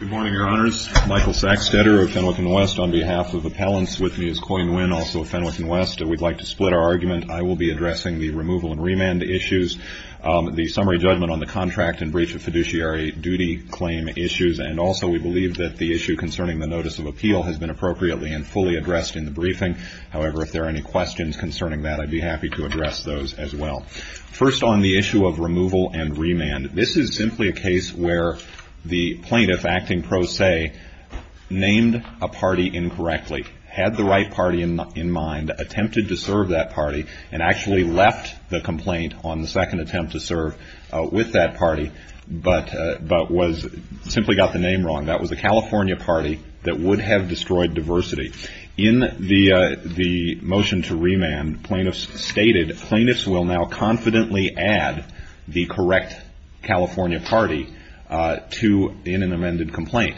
Good morning, Your Honors. Michael Sacksteder of Fenwick & West on behalf of Appellants with me as Coyne Nguyen, also of Fenwick & West. We'd like to split our argument. I will be addressing the removal and remand issues, the summary judgment on the contract and breach of fiduciary duty claim issues, and also we believe that the issue concerning the notice of appeal has been appropriately and fully addressed in the briefing. However, if there are any questions concerning that, I'd be happy to address those as well. First on the issue of removal and remand, this is simply a case where the plaintiff, acting pro se, named a party incorrectly, had the right party in mind, attempted to serve that party, and actually left the complaint on the second attempt to serve with that party, but simply got the name wrong. That was a California party that would have destroyed diversity. In the motion to remand, plaintiffs stated, plaintiffs will now confidently add the correct California party to an amended complaint.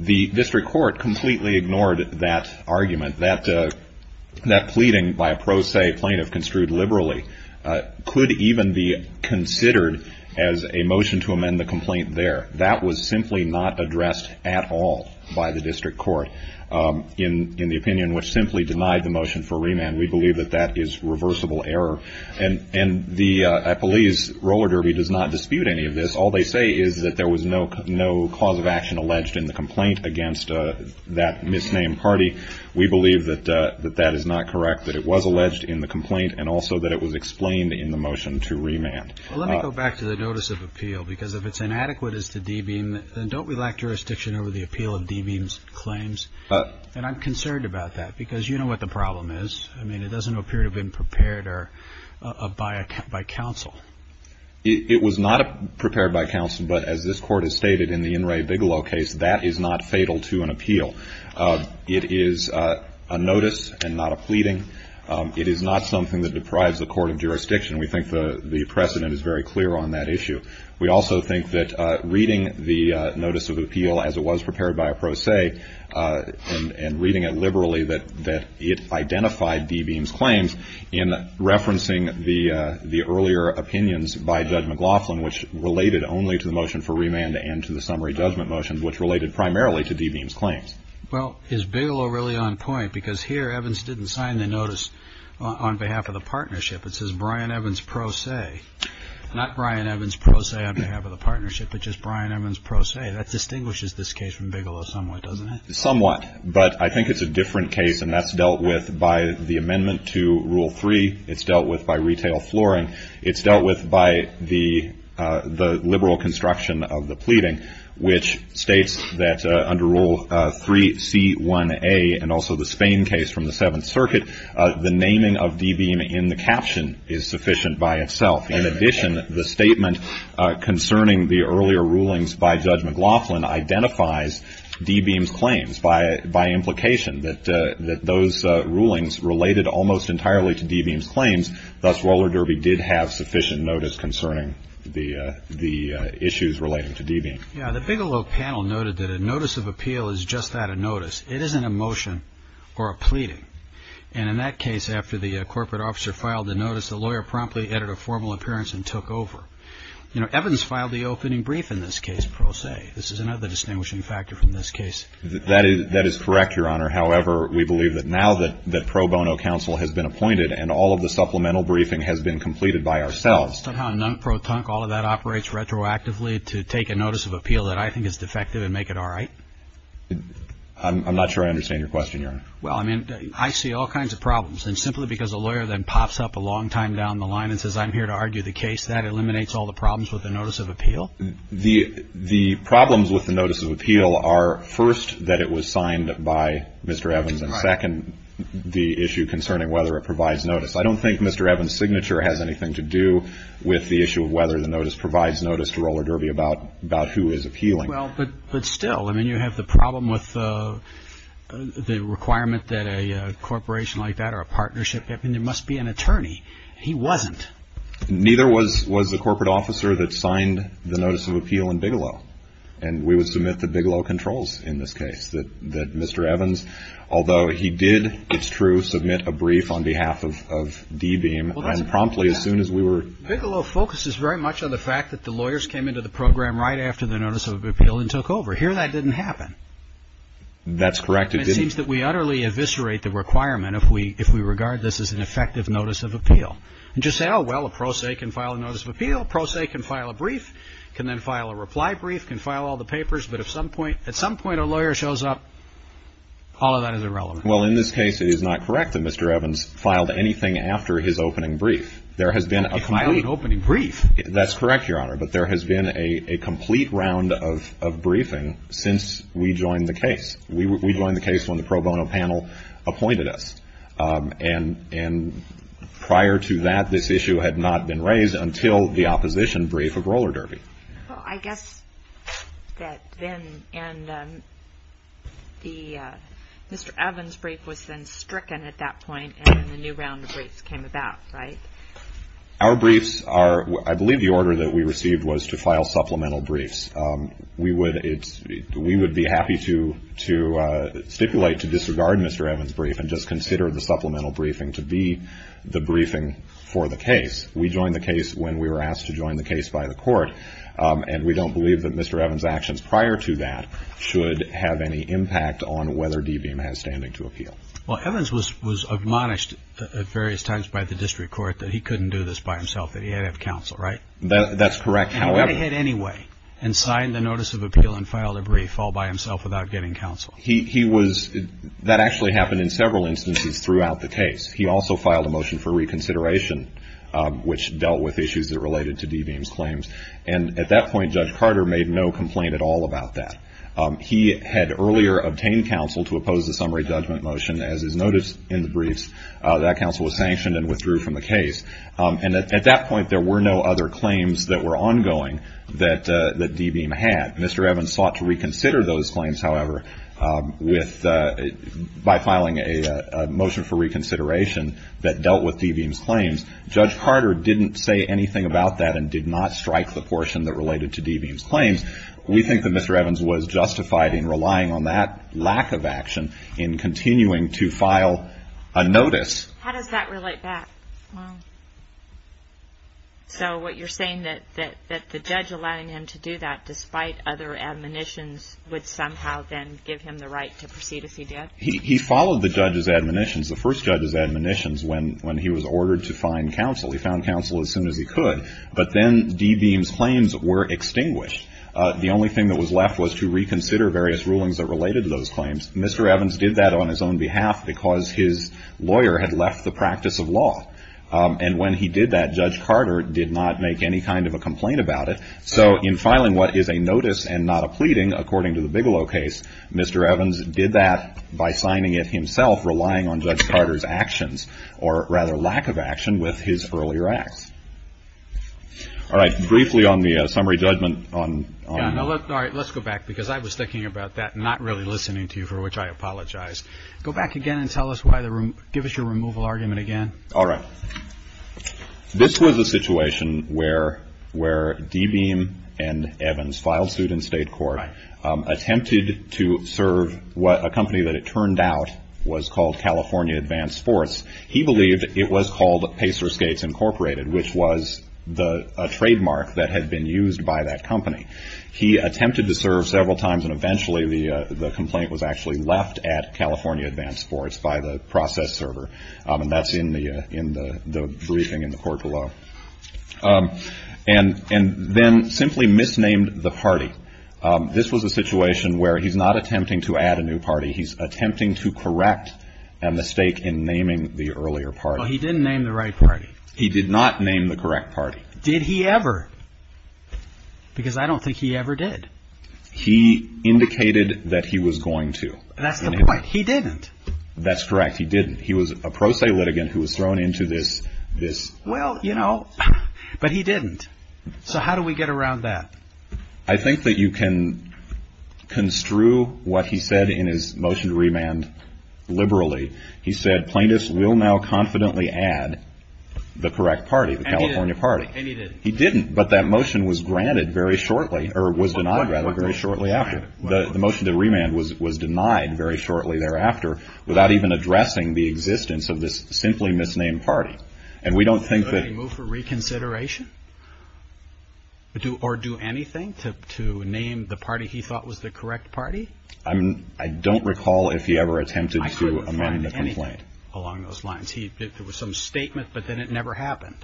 The district court completely ignored that argument. That pleading by a pro se plaintiff construed liberally could even be considered as a motion to amend the complaint there. That was simply not addressed at all by the district court in the opinion, which simply denied the motion for remand. We believe that that is reversible error, and I believe Roller Derby does not dispute any of this. All they say is that there was no cause of action alleged in the complaint against that misnamed party. We believe that that is not correct, that it was alleged in the complaint, and also that it was explained in the motion to remand. Well, let me go back to the notice of appeal, because if it's inadequate as to Debeam, then don't we lack jurisdiction over the appeal of Debeam's claims? And I'm concerned about that, because you know what the problem is. I mean, it doesn't appear to have been prepared by counsel. It was not prepared by counsel, but as this Court has stated in the In re Bigelow case, that is not fatal to an appeal. It is a notice and not a issue. We also think that reading the notice of appeal as it was prepared by a pro se, and reading it liberally, that it identified Debeam's claims in referencing the earlier opinions by Judge McLaughlin, which related only to the motion for remand and to the summary judgment motion, which related only to the motion for remand and to the summary judgment motion, which related only to the motion for remand and to the summary judgment motion. Well, is Bigelow really on point? Because here Evans didn't sign the notice on behalf of the partnership. It says Brian Evans pro se. Not Brian Evans pro se on behalf of the partnership, but just Brian Evans pro se. That distinguishes this case from Bigelow somewhat, doesn't it? Somewhat, but I think it's a different case, and that's dealt with by the amendment to Rule 3. It's dealt with by retail flooring. It's dealt with by the liberal construction of the pleading, which states that under Rule 3C1A and also the Spain case from the Seventh Circuit, the naming of Debeam in the caption is sufficient by itself. In addition, the statement concerning the earlier rulings by Judge McLaughlin identifies Debeam's claims. By implication, that those rulings related almost entirely to Debeam's claims, thus Roller Derby did have sufficient notice concerning the issues relating to Debeam. Yeah, the Bigelow panel noted that a notice of appeal is just that, a notice. It isn't a motion or a pleading. And in that case, after the corporate officer filed the notice, the lawyer promptly added a formal appearance and took over. You know, Evans filed the opening brief in this case pro se. This is another distinguishing factor from this case. That is correct, Your Honor. However, we believe that now that pro bono counsel has been appointed and all of the supplemental briefing has been completed by ourselves. Somehow, non-pro-tunk, all of that operates retroactively to take a notice of appeal that I think is defective and make it all right? I'm not sure I understand your question, Your Honor. Well, I mean, I see all kinds of problems. And simply because a lawyer then pops up a long time down the line and says, I'm here to argue the case, that eliminates all the problems with the notice of appeal? The problems with the notice of appeal are, first, that it was signed by Mr. Evans, and, second, the issue concerning whether it provides notice. I don't think Mr. Evans' signature has anything to do with the issue of whether the notice provides notice to Roller Derby about who is appealing. Well, but still, I mean, you have the problem with the requirement that a corporation like that or a partnership, I mean, there must be an attorney. He wasn't. Neither was the corporate officer that signed the notice of appeal in Bigelow. And we would submit the Bigelow controls in this case, that Mr. Evans, although he did, it's true, submit a brief on behalf of D-Beam and promptly as soon as we were Bigelow focuses very much on the fact that the lawyers came into the program right after the notice of appeal and took over. Here, that didn't happen. That's correct. It seems that we utterly eviscerate the requirement if we regard this as an effective notice of appeal. And just say, oh, well, a pro se can file a notice of appeal, a pro se can file a brief, can then file a reply brief, can file all the papers. But at some point a lawyer shows up, all of that is irrelevant. Well, in this case, it is not correct that Mr. Evans filed anything after his opening brief. He filed an opening brief. That's correct, Your Honor. But there has been a complete round of briefing since we joined the case. We joined the case when the pro bono panel appointed us. And prior to that, this issue had not been raised until the opposition brief of roller derby. Well, I guess that then and the Mr. Evans brief was then stricken at that point and then the new round of briefs came about, right? Our briefs are, I believe the order that we received was to file supplemental briefs. We would be happy to stipulate to disregard Mr. Evans' brief and just consider the supplemental briefing to be the briefing for the case. We joined the case when we were asked to join the case by the court. And we don't believe that Mr. Evans' actions prior to that should have any impact on whether D-Beam has standing to appeal. Well, Evans was admonished at various times by the district court that he couldn't do this by himself, that he had to have counsel, right? That's correct, however. And went ahead anyway and signed the notice of appeal and filed a brief all by himself without getting counsel. He was, that actually happened in several instances throughout the case. He also filed a motion for reconsideration, which dealt with issues that related to D-Beam's claims. And at that point, Judge Carter made no complaint at all about that. He had earlier obtained counsel to oppose the summary judgment motion. As is noted in the briefs, that counsel was sanctioned and withdrew from the case. And at that point, there were no other claims that were ongoing that D-Beam had. Mr. Evans sought to reconsider those claims, however, by filing a motion for reconsideration that dealt with D-Beam's claims. Judge Carter didn't say anything about that and did not strike the back of action in continuing to file a notice. How does that relate back? So what you're saying that the judge allowing him to do that despite other admonitions would somehow then give him the right to proceed if he did? He followed the judge's admonitions, the first judge's admonitions, when he was ordered to find counsel. He found counsel as soon as he could. But then D-Beam's claims were extinguished. The only thing that was left was to reconsider various rulings that related to those claims. Mr. Evans did that on his own behalf because his lawyer had left the practice of law. And when he did that, Judge Carter did not make any kind of a complaint about it. So in filing what is a notice and not a pleading, according to the Bigelow case, Mr. Evans did that by signing it himself, relying on Judge Carter's actions, or rather lack of action, with his earlier acts. All right. Briefly on the summary judgment on All right. Let's go back, because I was thinking about that and not really listening to you, for which I apologize. Go back again and give us your removal argument again. All right. This was a situation where D-Beam and Evans filed suit in state court, attempted to serve a company that it turned out was called California Advanced Sports. He believed it was called Pacerskates Incorporated, which was a trademark that had been used by that company. He attempted to serve several times, and eventually the complaint was actually left at California Advanced Sports by the process server. And that's in the briefing in the court below. And then simply misnamed the party. This was a situation where he's not attempting to add a new party. He's attempting to correct a mistake in naming the earlier party. Well, he didn't name the right party. He did not name the correct party. Did he ever? Because I don't think he ever did. He indicated that he was going to. That's the point. He didn't. That's correct. He didn't. He was a pro se litigant who was thrown into this. Well, you know, but he didn't. So how do we get around that? I think that you can construe what he said in his motion to remand liberally. He said plaintiffs will now confidently add the correct party, the California party. He didn't. But that motion was granted very shortly or was denied rather very shortly after. The motion to remand was denied very shortly thereafter without even addressing the existence of this simply misnamed party. And we don't think that he moved for reconsideration or do anything to name the party he thought was the correct party. I mean, I don't recall if he ever attempted to amend the complaint along those lines. There was some statement, but then it never happened.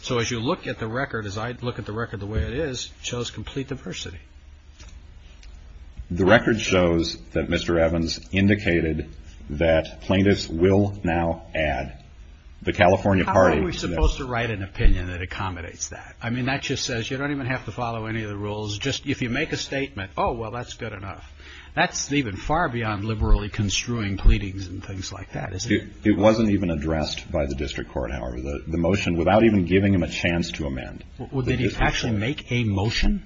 So as you look at the record, as I look at the record, the way it is shows complete diversity. The record shows that Mr. Evans indicated that plaintiffs will now add the California party. How are we supposed to write an opinion that accommodates that? I mean, that just says you don't even have to follow any of the rules. Just if you make a statement, oh, well, that's good enough. That's even far beyond liberally construing pleadings and things like that. It wasn't even addressed by the district court, however, the motion without even giving him a chance to amend. Well, did he actually make a motion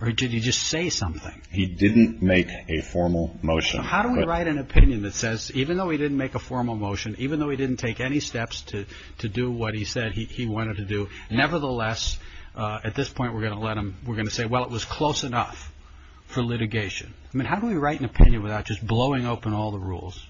or did he just say something? He didn't make a formal motion. How do we write an opinion that says even though he didn't make a formal motion, even though he didn't take any steps to do what he said he wanted to do, nevertheless, at this point, we're going to let him. We're going to say, well, it was close enough for litigation. I mean, how do we write an opinion without just blowing open all the rules?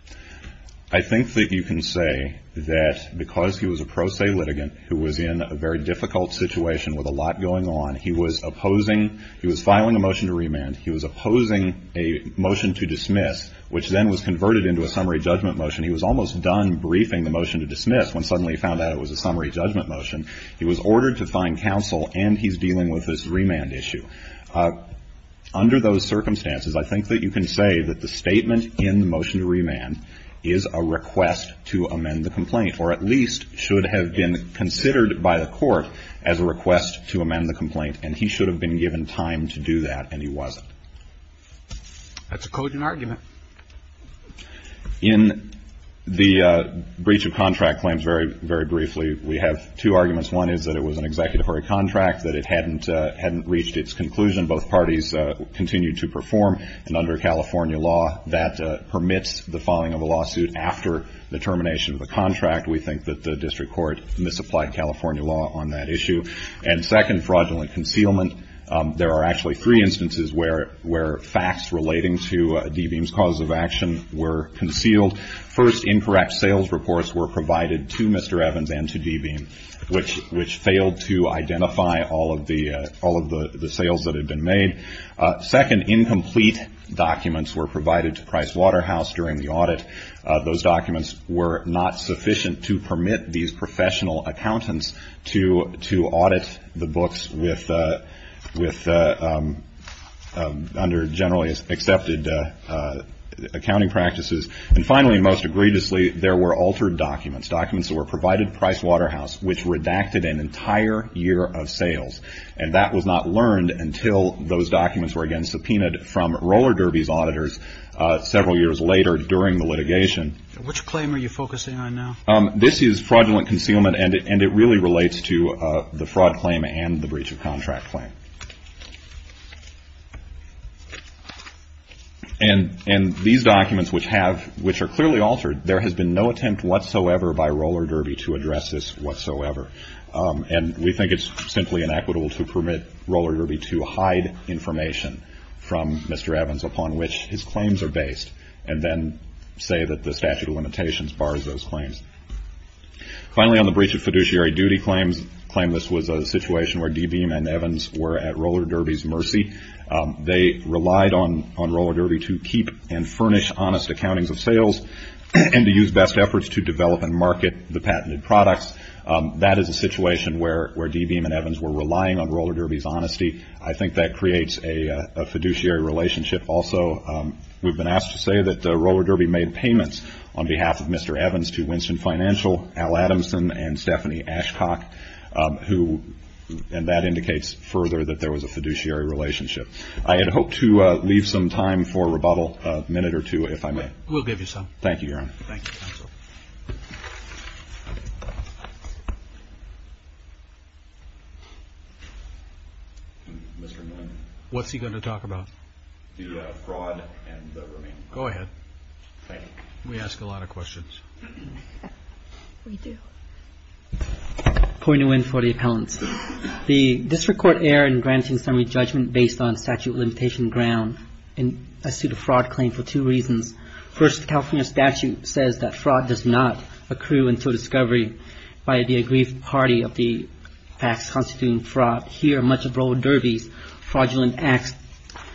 I think that you can say that because he was a pro se litigant who was in a very difficult situation with a lot going on, he was opposing he was filing a motion to remand. He was opposing a motion to dismiss, which then was converted into a summary judgment motion. He was almost done briefing the motion to dismiss when suddenly he found out it was a summary judgment motion. He was ordered to find counsel, and he's dealing with this remand issue. Under those circumstances, I think that you can say that the statement in the motion to remand is a request to amend the complaint or at least should have been considered by the court as a request to amend the complaint, and he should have been given time to do that, and he wasn't. That's a cogent argument. In the breach of contract claims, very, very briefly, we have two arguments. One is that it was an executory contract, that it hadn't reached its conclusion. Both parties continued to perform, and under California law, that permits the filing of a lawsuit after the termination of the contract. We think that the district court misapplied California law on that issue. And second, fraudulent concealment. There are actually three instances where facts relating to D-Beam's cause of action were concealed. First, incorrect sales reports were provided to Mr. Evans and to D-Beam, which failed to identify all of the sales that had been made. Second, incomplete documents were provided to Price Waterhouse during the audit. Those documents were not sufficient to permit these professional accountants to audit the books under generally accepted accounting practices. And finally, most egregiously, there were altered documents, documents that were provided to Price Waterhouse, which redacted an entire year of sales. And that was not learned until those documents were again subpoenaed from Roller Derby's auditors several years later during the litigation. Which claim are you focusing on now? This is fraudulent concealment, and it really relates to the fraud claim and the breach of contract claim. And these documents, which are clearly altered, there has been no attempt whatsoever by Roller Derby to address this whatsoever. And we think it's simply inequitable to permit Roller Derby to hide information from Mr. Evans upon which his claims are based, and then say that the statute of limitations bars those claims. Finally, on the breach of fiduciary duty claims, claim this was a situation where D. Beam and Evans were at Roller Derby's mercy. They relied on Roller Derby to keep and furnish honest accountings of sales and to use best efforts to develop and market the patented products. That is a situation where D. Beam and Evans were relying on Roller Derby's honesty. I think that creates a fiduciary relationship. We've been asked to say that Roller Derby made payments on behalf of Mr. Evans to Winston Financial, Al Adamson, and Stephanie Ashcock, and that indicates further that there was a fiduciary relationship. I had hoped to leave some time for rebuttal, a minute or two, if I may. We'll give you some. Thank you, Your Honor. Thank you, Counsel. What's he going to talk about? The fraud and the remaining claims. Go ahead. Thank you. We ask a lot of questions. We do. Point of win for the appellants. The district court erred in granting summary judgment based on statute of limitation ground in a suit of fraud claim for two reasons. First, the California statute says that fraud does not accrue until discovery by the aggrieved party of the acts constituting fraud. Here, much of Roller Derby's fraudulent acts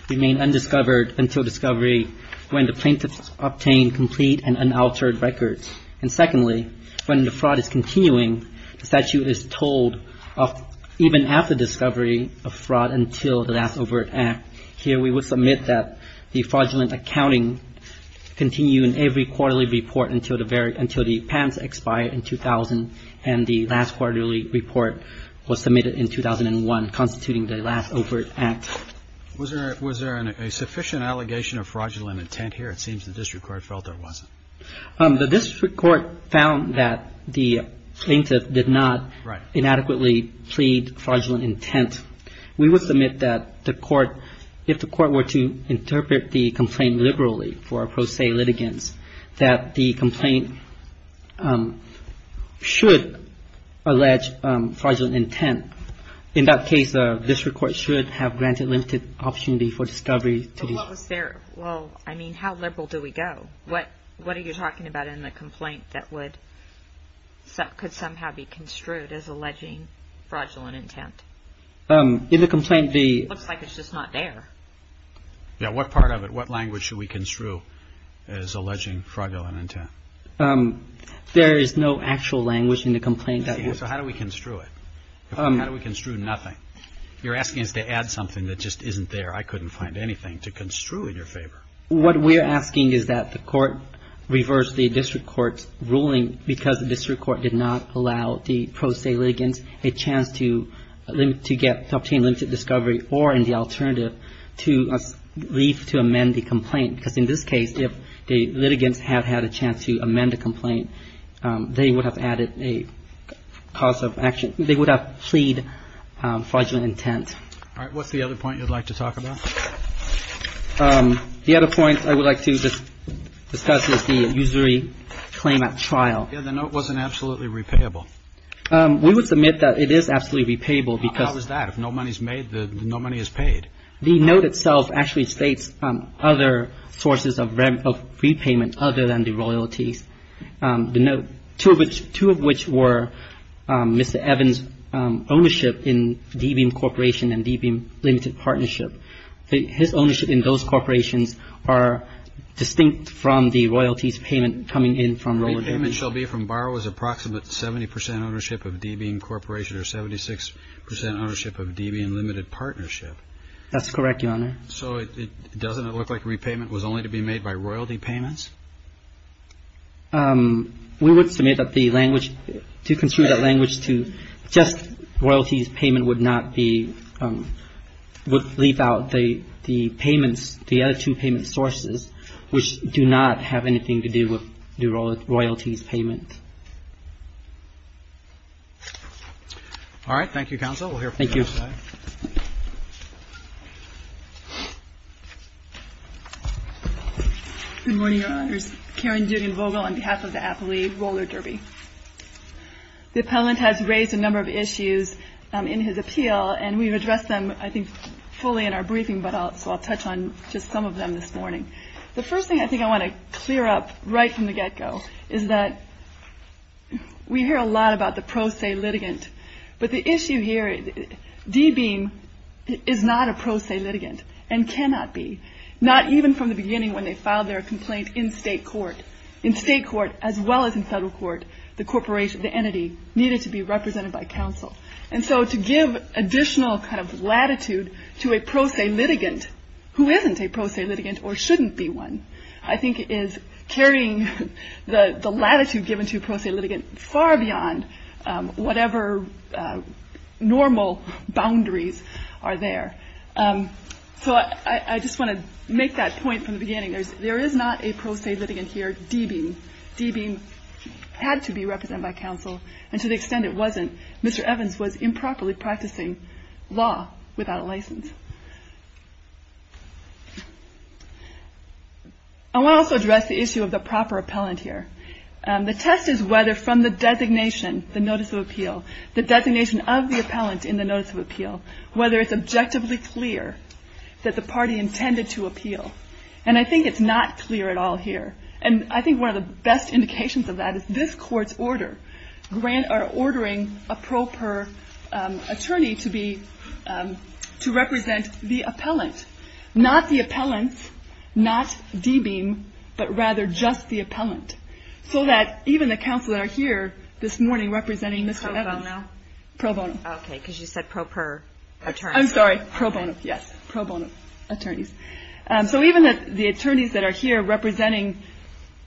remain undiscovered until discovery when the plaintiffs obtain complete and unaltered records. And secondly, when the fraud is continuing, the statute is told of even after discovery of fraud until the last overt act. Here we will submit that the fraudulent accounting continue in every quarterly report until the patents expire in 2000 and the last quarterly report was submitted in 2001 constituting the last overt act. Was there a sufficient allegation of fraudulent intent here? It seems the district court felt there wasn't. The district court found that the plaintiff did not inadequately plead fraudulent intent. We would submit that the court, if the court were to interpret the complaint liberally for pro se litigants, that the complaint should allege fraudulent intent. In that case, the district court should have granted limited opportunity for discovery. What was there? Well, I mean, how liberal do we go? What are you talking about in the complaint that could somehow be construed as alleging fraudulent intent? In the complaint, the It looks like it's just not there. Yeah, what part of it, what language should we construe as alleging fraudulent intent? There is no actual language in the complaint. So how do we construe it? How do we construe nothing? You're asking us to add something that just isn't there. I couldn't find anything to construe in your favor. What we're asking is that the court reverse the district court's ruling because the district court did not allow the pro se litigants a chance to obtain limited discovery or in the alternative to leave to amend the complaint. Because in this case, if the litigants had had a chance to amend the complaint, they would have added a cause of action. They would have plead fraudulent intent. All right, what's the other point you'd like to talk about? The other point I would like to discuss is the usury claim at trial. Yeah, the note wasn't absolutely repayable. We would submit that it is absolutely repayable because How is that? If no money is made, no money is paid. The note itself actually states other sources of repayment other than the royalties. The note, two of which were Mr. Evans' ownership in D-Beam Corporation and D-Beam Limited Partnership. His ownership in those corporations are distinct from the royalties payment coming in from Roller Damage. Repayment shall be from borrowers approximate 70 percent ownership of D-Beam Corporation or 76 percent ownership of D-Beam Limited Partnership. That's correct, Your Honor. So doesn't it look like repayment was only to be made by royalty payments? We would submit that the language, to construe that language to just royalties payment would not be, would leave out the payments, the other two payment sources, which do not have anything to do with the royalties payment. All right. Thank you, counsel. We'll hear from you next time. Thank you. Good morning, Your Honors. Karen Julian Vogel on behalf of the Appellee Roller Derby. The Appellant has raised a number of issues in his appeal, and we've addressed them, I think, fully in our briefing, so I'll touch on just some of them this morning. The first thing I think I want to clear up right from the get-go is that we hear a lot about the pro se litigant, but the issue here, D-Beam is not a pro se litigant and cannot be, not even from the beginning when they filed their complaint in state court. In state court as well as in federal court, the entity needed to be represented by counsel. And so to give additional kind of latitude to a pro se litigant, who isn't a pro se litigant or shouldn't be one, I think is carrying the latitude given to a pro se litigant far beyond whatever normal boundaries are there. So I just want to make that point from the beginning. There is not a pro se litigant here, D-Beam. D-Beam had to be represented by counsel, and to the extent it wasn't, Mr. Evans was improperly practicing law without a license. I want to also address the issue of the proper appellant here. The test is whether from the designation, the notice of appeal, the designation of the appellant in the notice of appeal, whether it's objectively clear that the party intended to appeal. And I think it's not clear at all here. And I think one of the best indications of that is this court's order are ordering a pro per attorney to represent the appellant. Not the appellant, not D-Beam, but rather just the appellant. So that even the counsel that are here this morning representing Mr. Evans. The pro bono? Pro bono. Okay, because you said pro per attorney. I'm sorry, pro bono, yes, pro bono attorneys. So even the attorneys that are here representing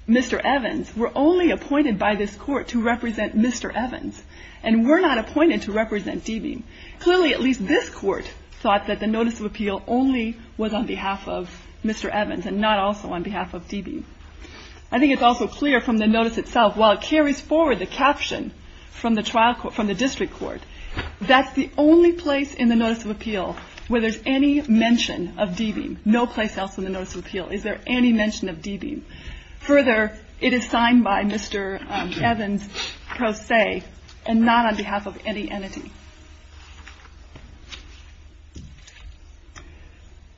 Mr. Evans were only appointed by this court to represent Mr. Evans. And were not appointed to represent D-Beam. Clearly, at least this court thought that the notice of appeal only was on behalf of Mr. Evans and not also on behalf of D-Beam. I think it's also clear from the notice itself, while it carries forward the caption from the district court, that's the only place in the notice of appeal where there's any mention of D-Beam. No place else in the notice of appeal is there any mention of D-Beam. Further, it is signed by Mr. Evans pro se and not on behalf of any entity.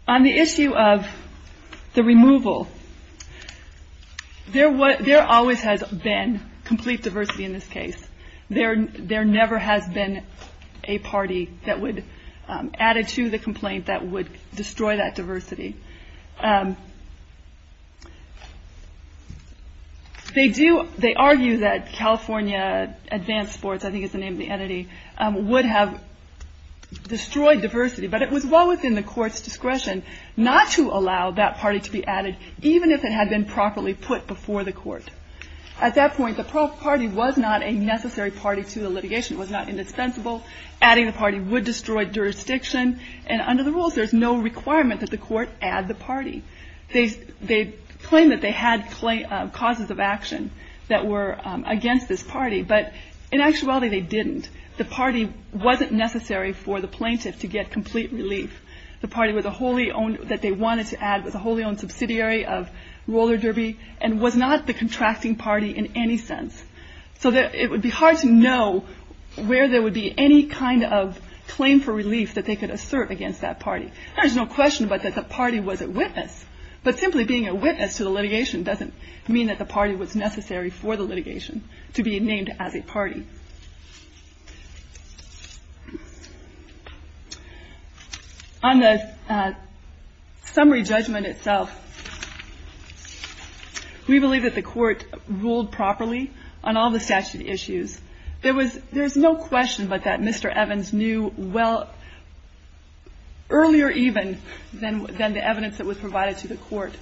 On the issue of the removal, there always has been complete diversity in this case. There never has been a party that would, added to the complaint, that would destroy that diversity. They argue that California Advanced Sports, I think is the name of the entity, would have destroyed diversity. But it was well within the court's discretion not to allow that party to be added, even if it had been properly put before the court. At that point, the party was not a necessary party to the litigation. It was not indispensable. Adding the party would destroy jurisdiction. And under the rules, there's no requirement that the court add the party. They claim that they had causes of action that were against this party. But in actuality, they didn't. The party wasn't necessary for the plaintiff to get complete relief. The party that they wanted to add was a wholly owned subsidiary of Roller Derby and was not the contracting party in any sense. So it would be hard to know where there would be any kind of claim for relief that they could assert against that party. There's no question but that the party was a witness. But simply being a witness to the litigation doesn't mean that the party was necessary for the litigation to be named as a party. On the summary judgment itself, we believe that the court ruled properly on all the statute issues. There was no question but that Mr. Evans knew well earlier even than the evidence that was provided to the court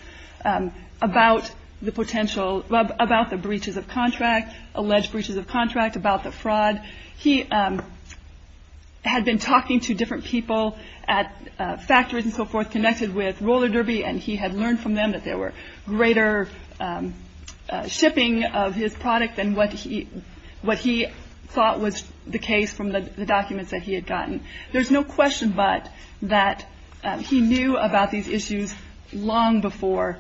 about the potential about the breaches of contract, alleged breaches of contract, about the fraud. He had been talking to different people at factories and so forth connected with Roller Derby, and he had learned from them that there were greater shipping of his product than what he thought was the case from the documents that he had gotten. There's no question but that he knew about these issues long before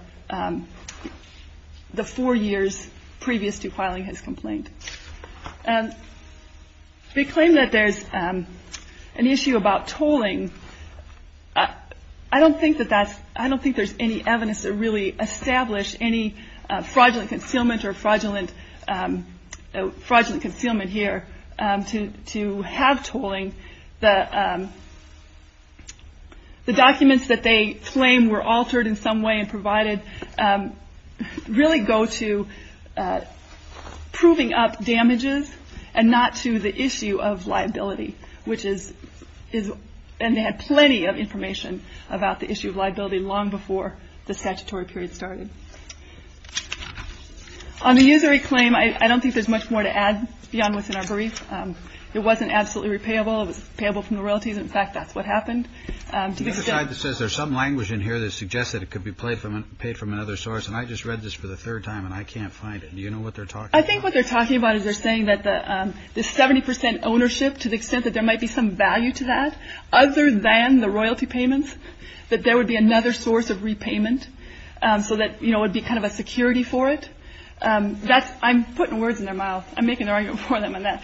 the four years previous to filing his complaint. They claim that there's an issue about tolling. I don't think there's any evidence to really establish any fraudulent concealment or fraudulent concealment here to have tolling. The documents that they claim were altered in some way and provided really go to proving up damages and not to the issue of liability, and they had plenty of information about the issue of liability long before the statutory period started. On the usury claim, I don't think there's much more to add beyond what's in our brief. It wasn't absolutely repayable. It was payable from the royalties. In fact, that's what happened. There's some language in here that suggests that it could be paid from another source, and I just read this for the third time and I can't find it. Do you know what they're talking about? I think what they're talking about is they're saying that the 70 percent ownership, to the extent that there might be some value to that other than the royalty payments, that there would be another source of repayment so that it would be kind of a security for it. I'm putting words in their mouth. I'm making an argument for them on that.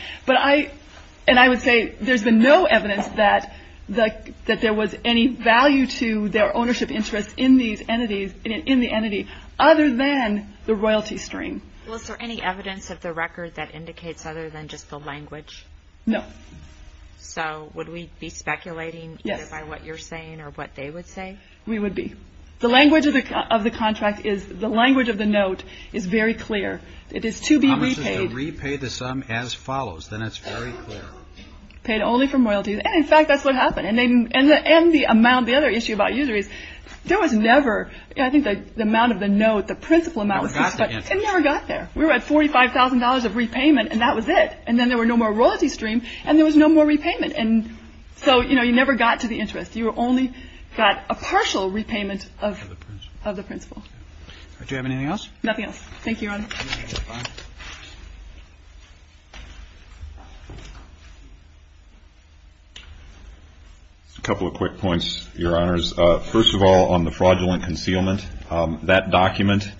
And I would say there's been no evidence that there was any value to their ownership interest in the entity other than the royalty stream. Well, is there any evidence of the record that indicates other than just the language? No. So would we be speculating either by what you're saying or what they would say? We would be. The language of the contract is the language of the note is very clear. It is to be repaid. It promises to repay the sum as follows. Then it's very clear. Paid only from royalties. And, in fact, that's what happened. And the amount, the other issue about usury is there was never, I think, the amount of the note, the principal amount. It never got there. We were at $45,000 of repayment and that was it. And then there were no more royalty stream and there was no more repayment. And so, you know, you never got to the interest. You only got a partial repayment of the principal. Do you have anything else? Nothing else. Thank you, Your Honor. A couple of quick points, Your Honors. First of all, on the fraudulent concealment, that document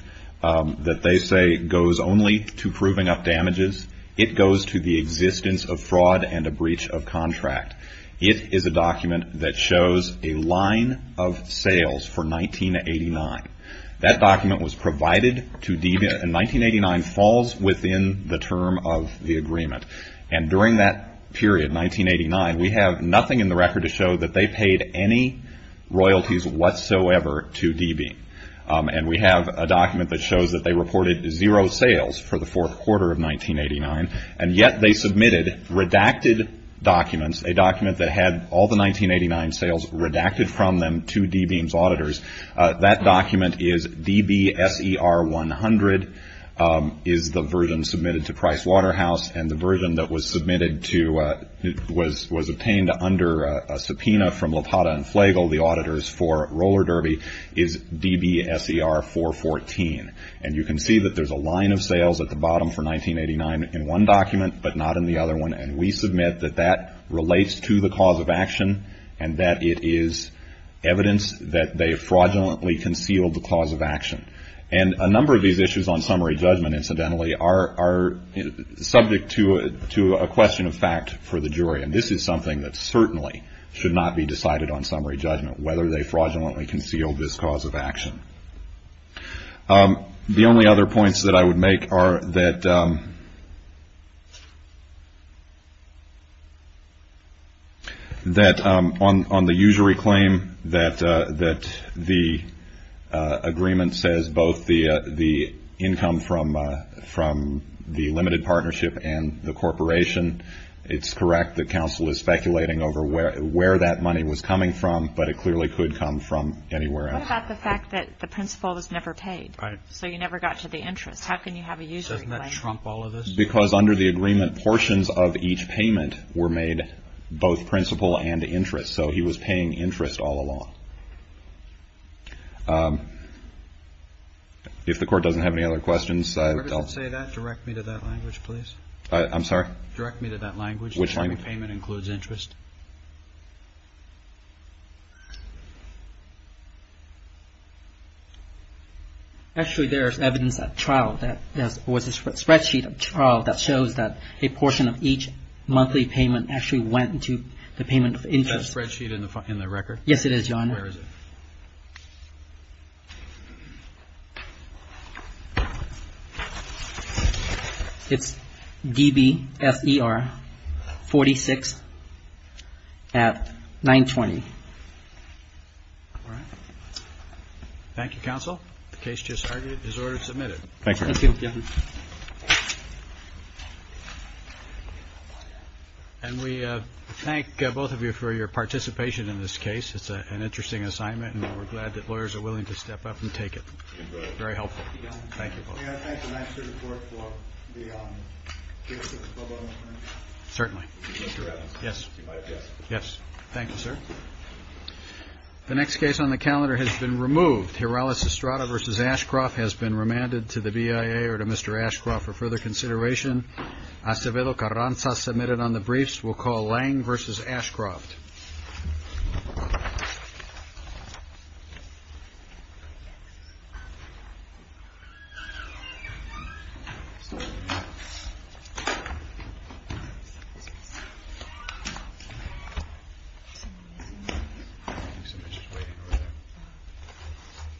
that they say goes only to proving up damages, it goes to the existence of fraud and a breach of contract. It is a document that shows a line of sales for 1989. That document was provided to DBEAM and 1989 falls within the term of the agreement. And during that period, 1989, we have nothing in the record to show that they paid any royalties whatsoever to DBEAM. And we have a document that shows that they reported zero sales for the fourth quarter of 1989, and yet they submitted redacted documents, a document that had all the 1989 sales redacted from them to DBEAM's auditors. That document is DBSER100, is the version submitted to Price Waterhouse, and the version that was submitted to, was obtained under a subpoena from LaPrada and Flagle, the auditors for Roller Derby, is DBSER414. And you can see that there's a line of sales at the bottom for 1989 in one document, but not in the other one. And we submit that that relates to the cause of action and that it is evidence that they fraudulently concealed the cause of action. And a number of these issues on summary judgment, incidentally, are subject to a question of fact for the jury. And this is something that certainly should not be decided on summary judgment, whether they fraudulently concealed this cause of action. The only other points that I would make are that on the usury claim that the agreement says both the income from the limited partnership and the corporation, it's correct that counsel is speculating over where that money was coming from, but it clearly could come from anywhere else. What about the fact that the principal was never paid? Right. So you never got to the interest. How can you have a usury claim? Doesn't that trump all of this? Because under the agreement, portions of each payment were made, both principal and interest. So he was paying interest all along. If the court doesn't have any other questions, I'll... If the court doesn't say that, direct me to that language, please. I'm sorry? Direct me to that language. Which language? Actually, there is evidence at trial that there was a spreadsheet at trial that shows that a portion of each monthly payment actually went to the payment of interest. Is that spreadsheet in the record? Yes, it is, Your Honor. Where is it? It's D-B-F-E-R 46 at 920. All right. Thank you, counsel. The case just started. It is ordered to submit it. Thank you. Thank you, Your Honor. And we thank both of you for your participation in this case. It's an interesting assignment, and we're glad that lawyers are willing to step up and take it. Very helpful. Thank you both. May I thank the Master Court for the briefs of the public? Certainly. Mr. Adams. Yes. Yes. Thank you, sir. The next case on the calendar has been removed. Heraldes Estrada v. Ashcroft has been remanded to the BIA or to Mr. Ashcroft for further consideration. Acevedo Carranza submitted on the briefs. We will call Lange v. Ashcroft.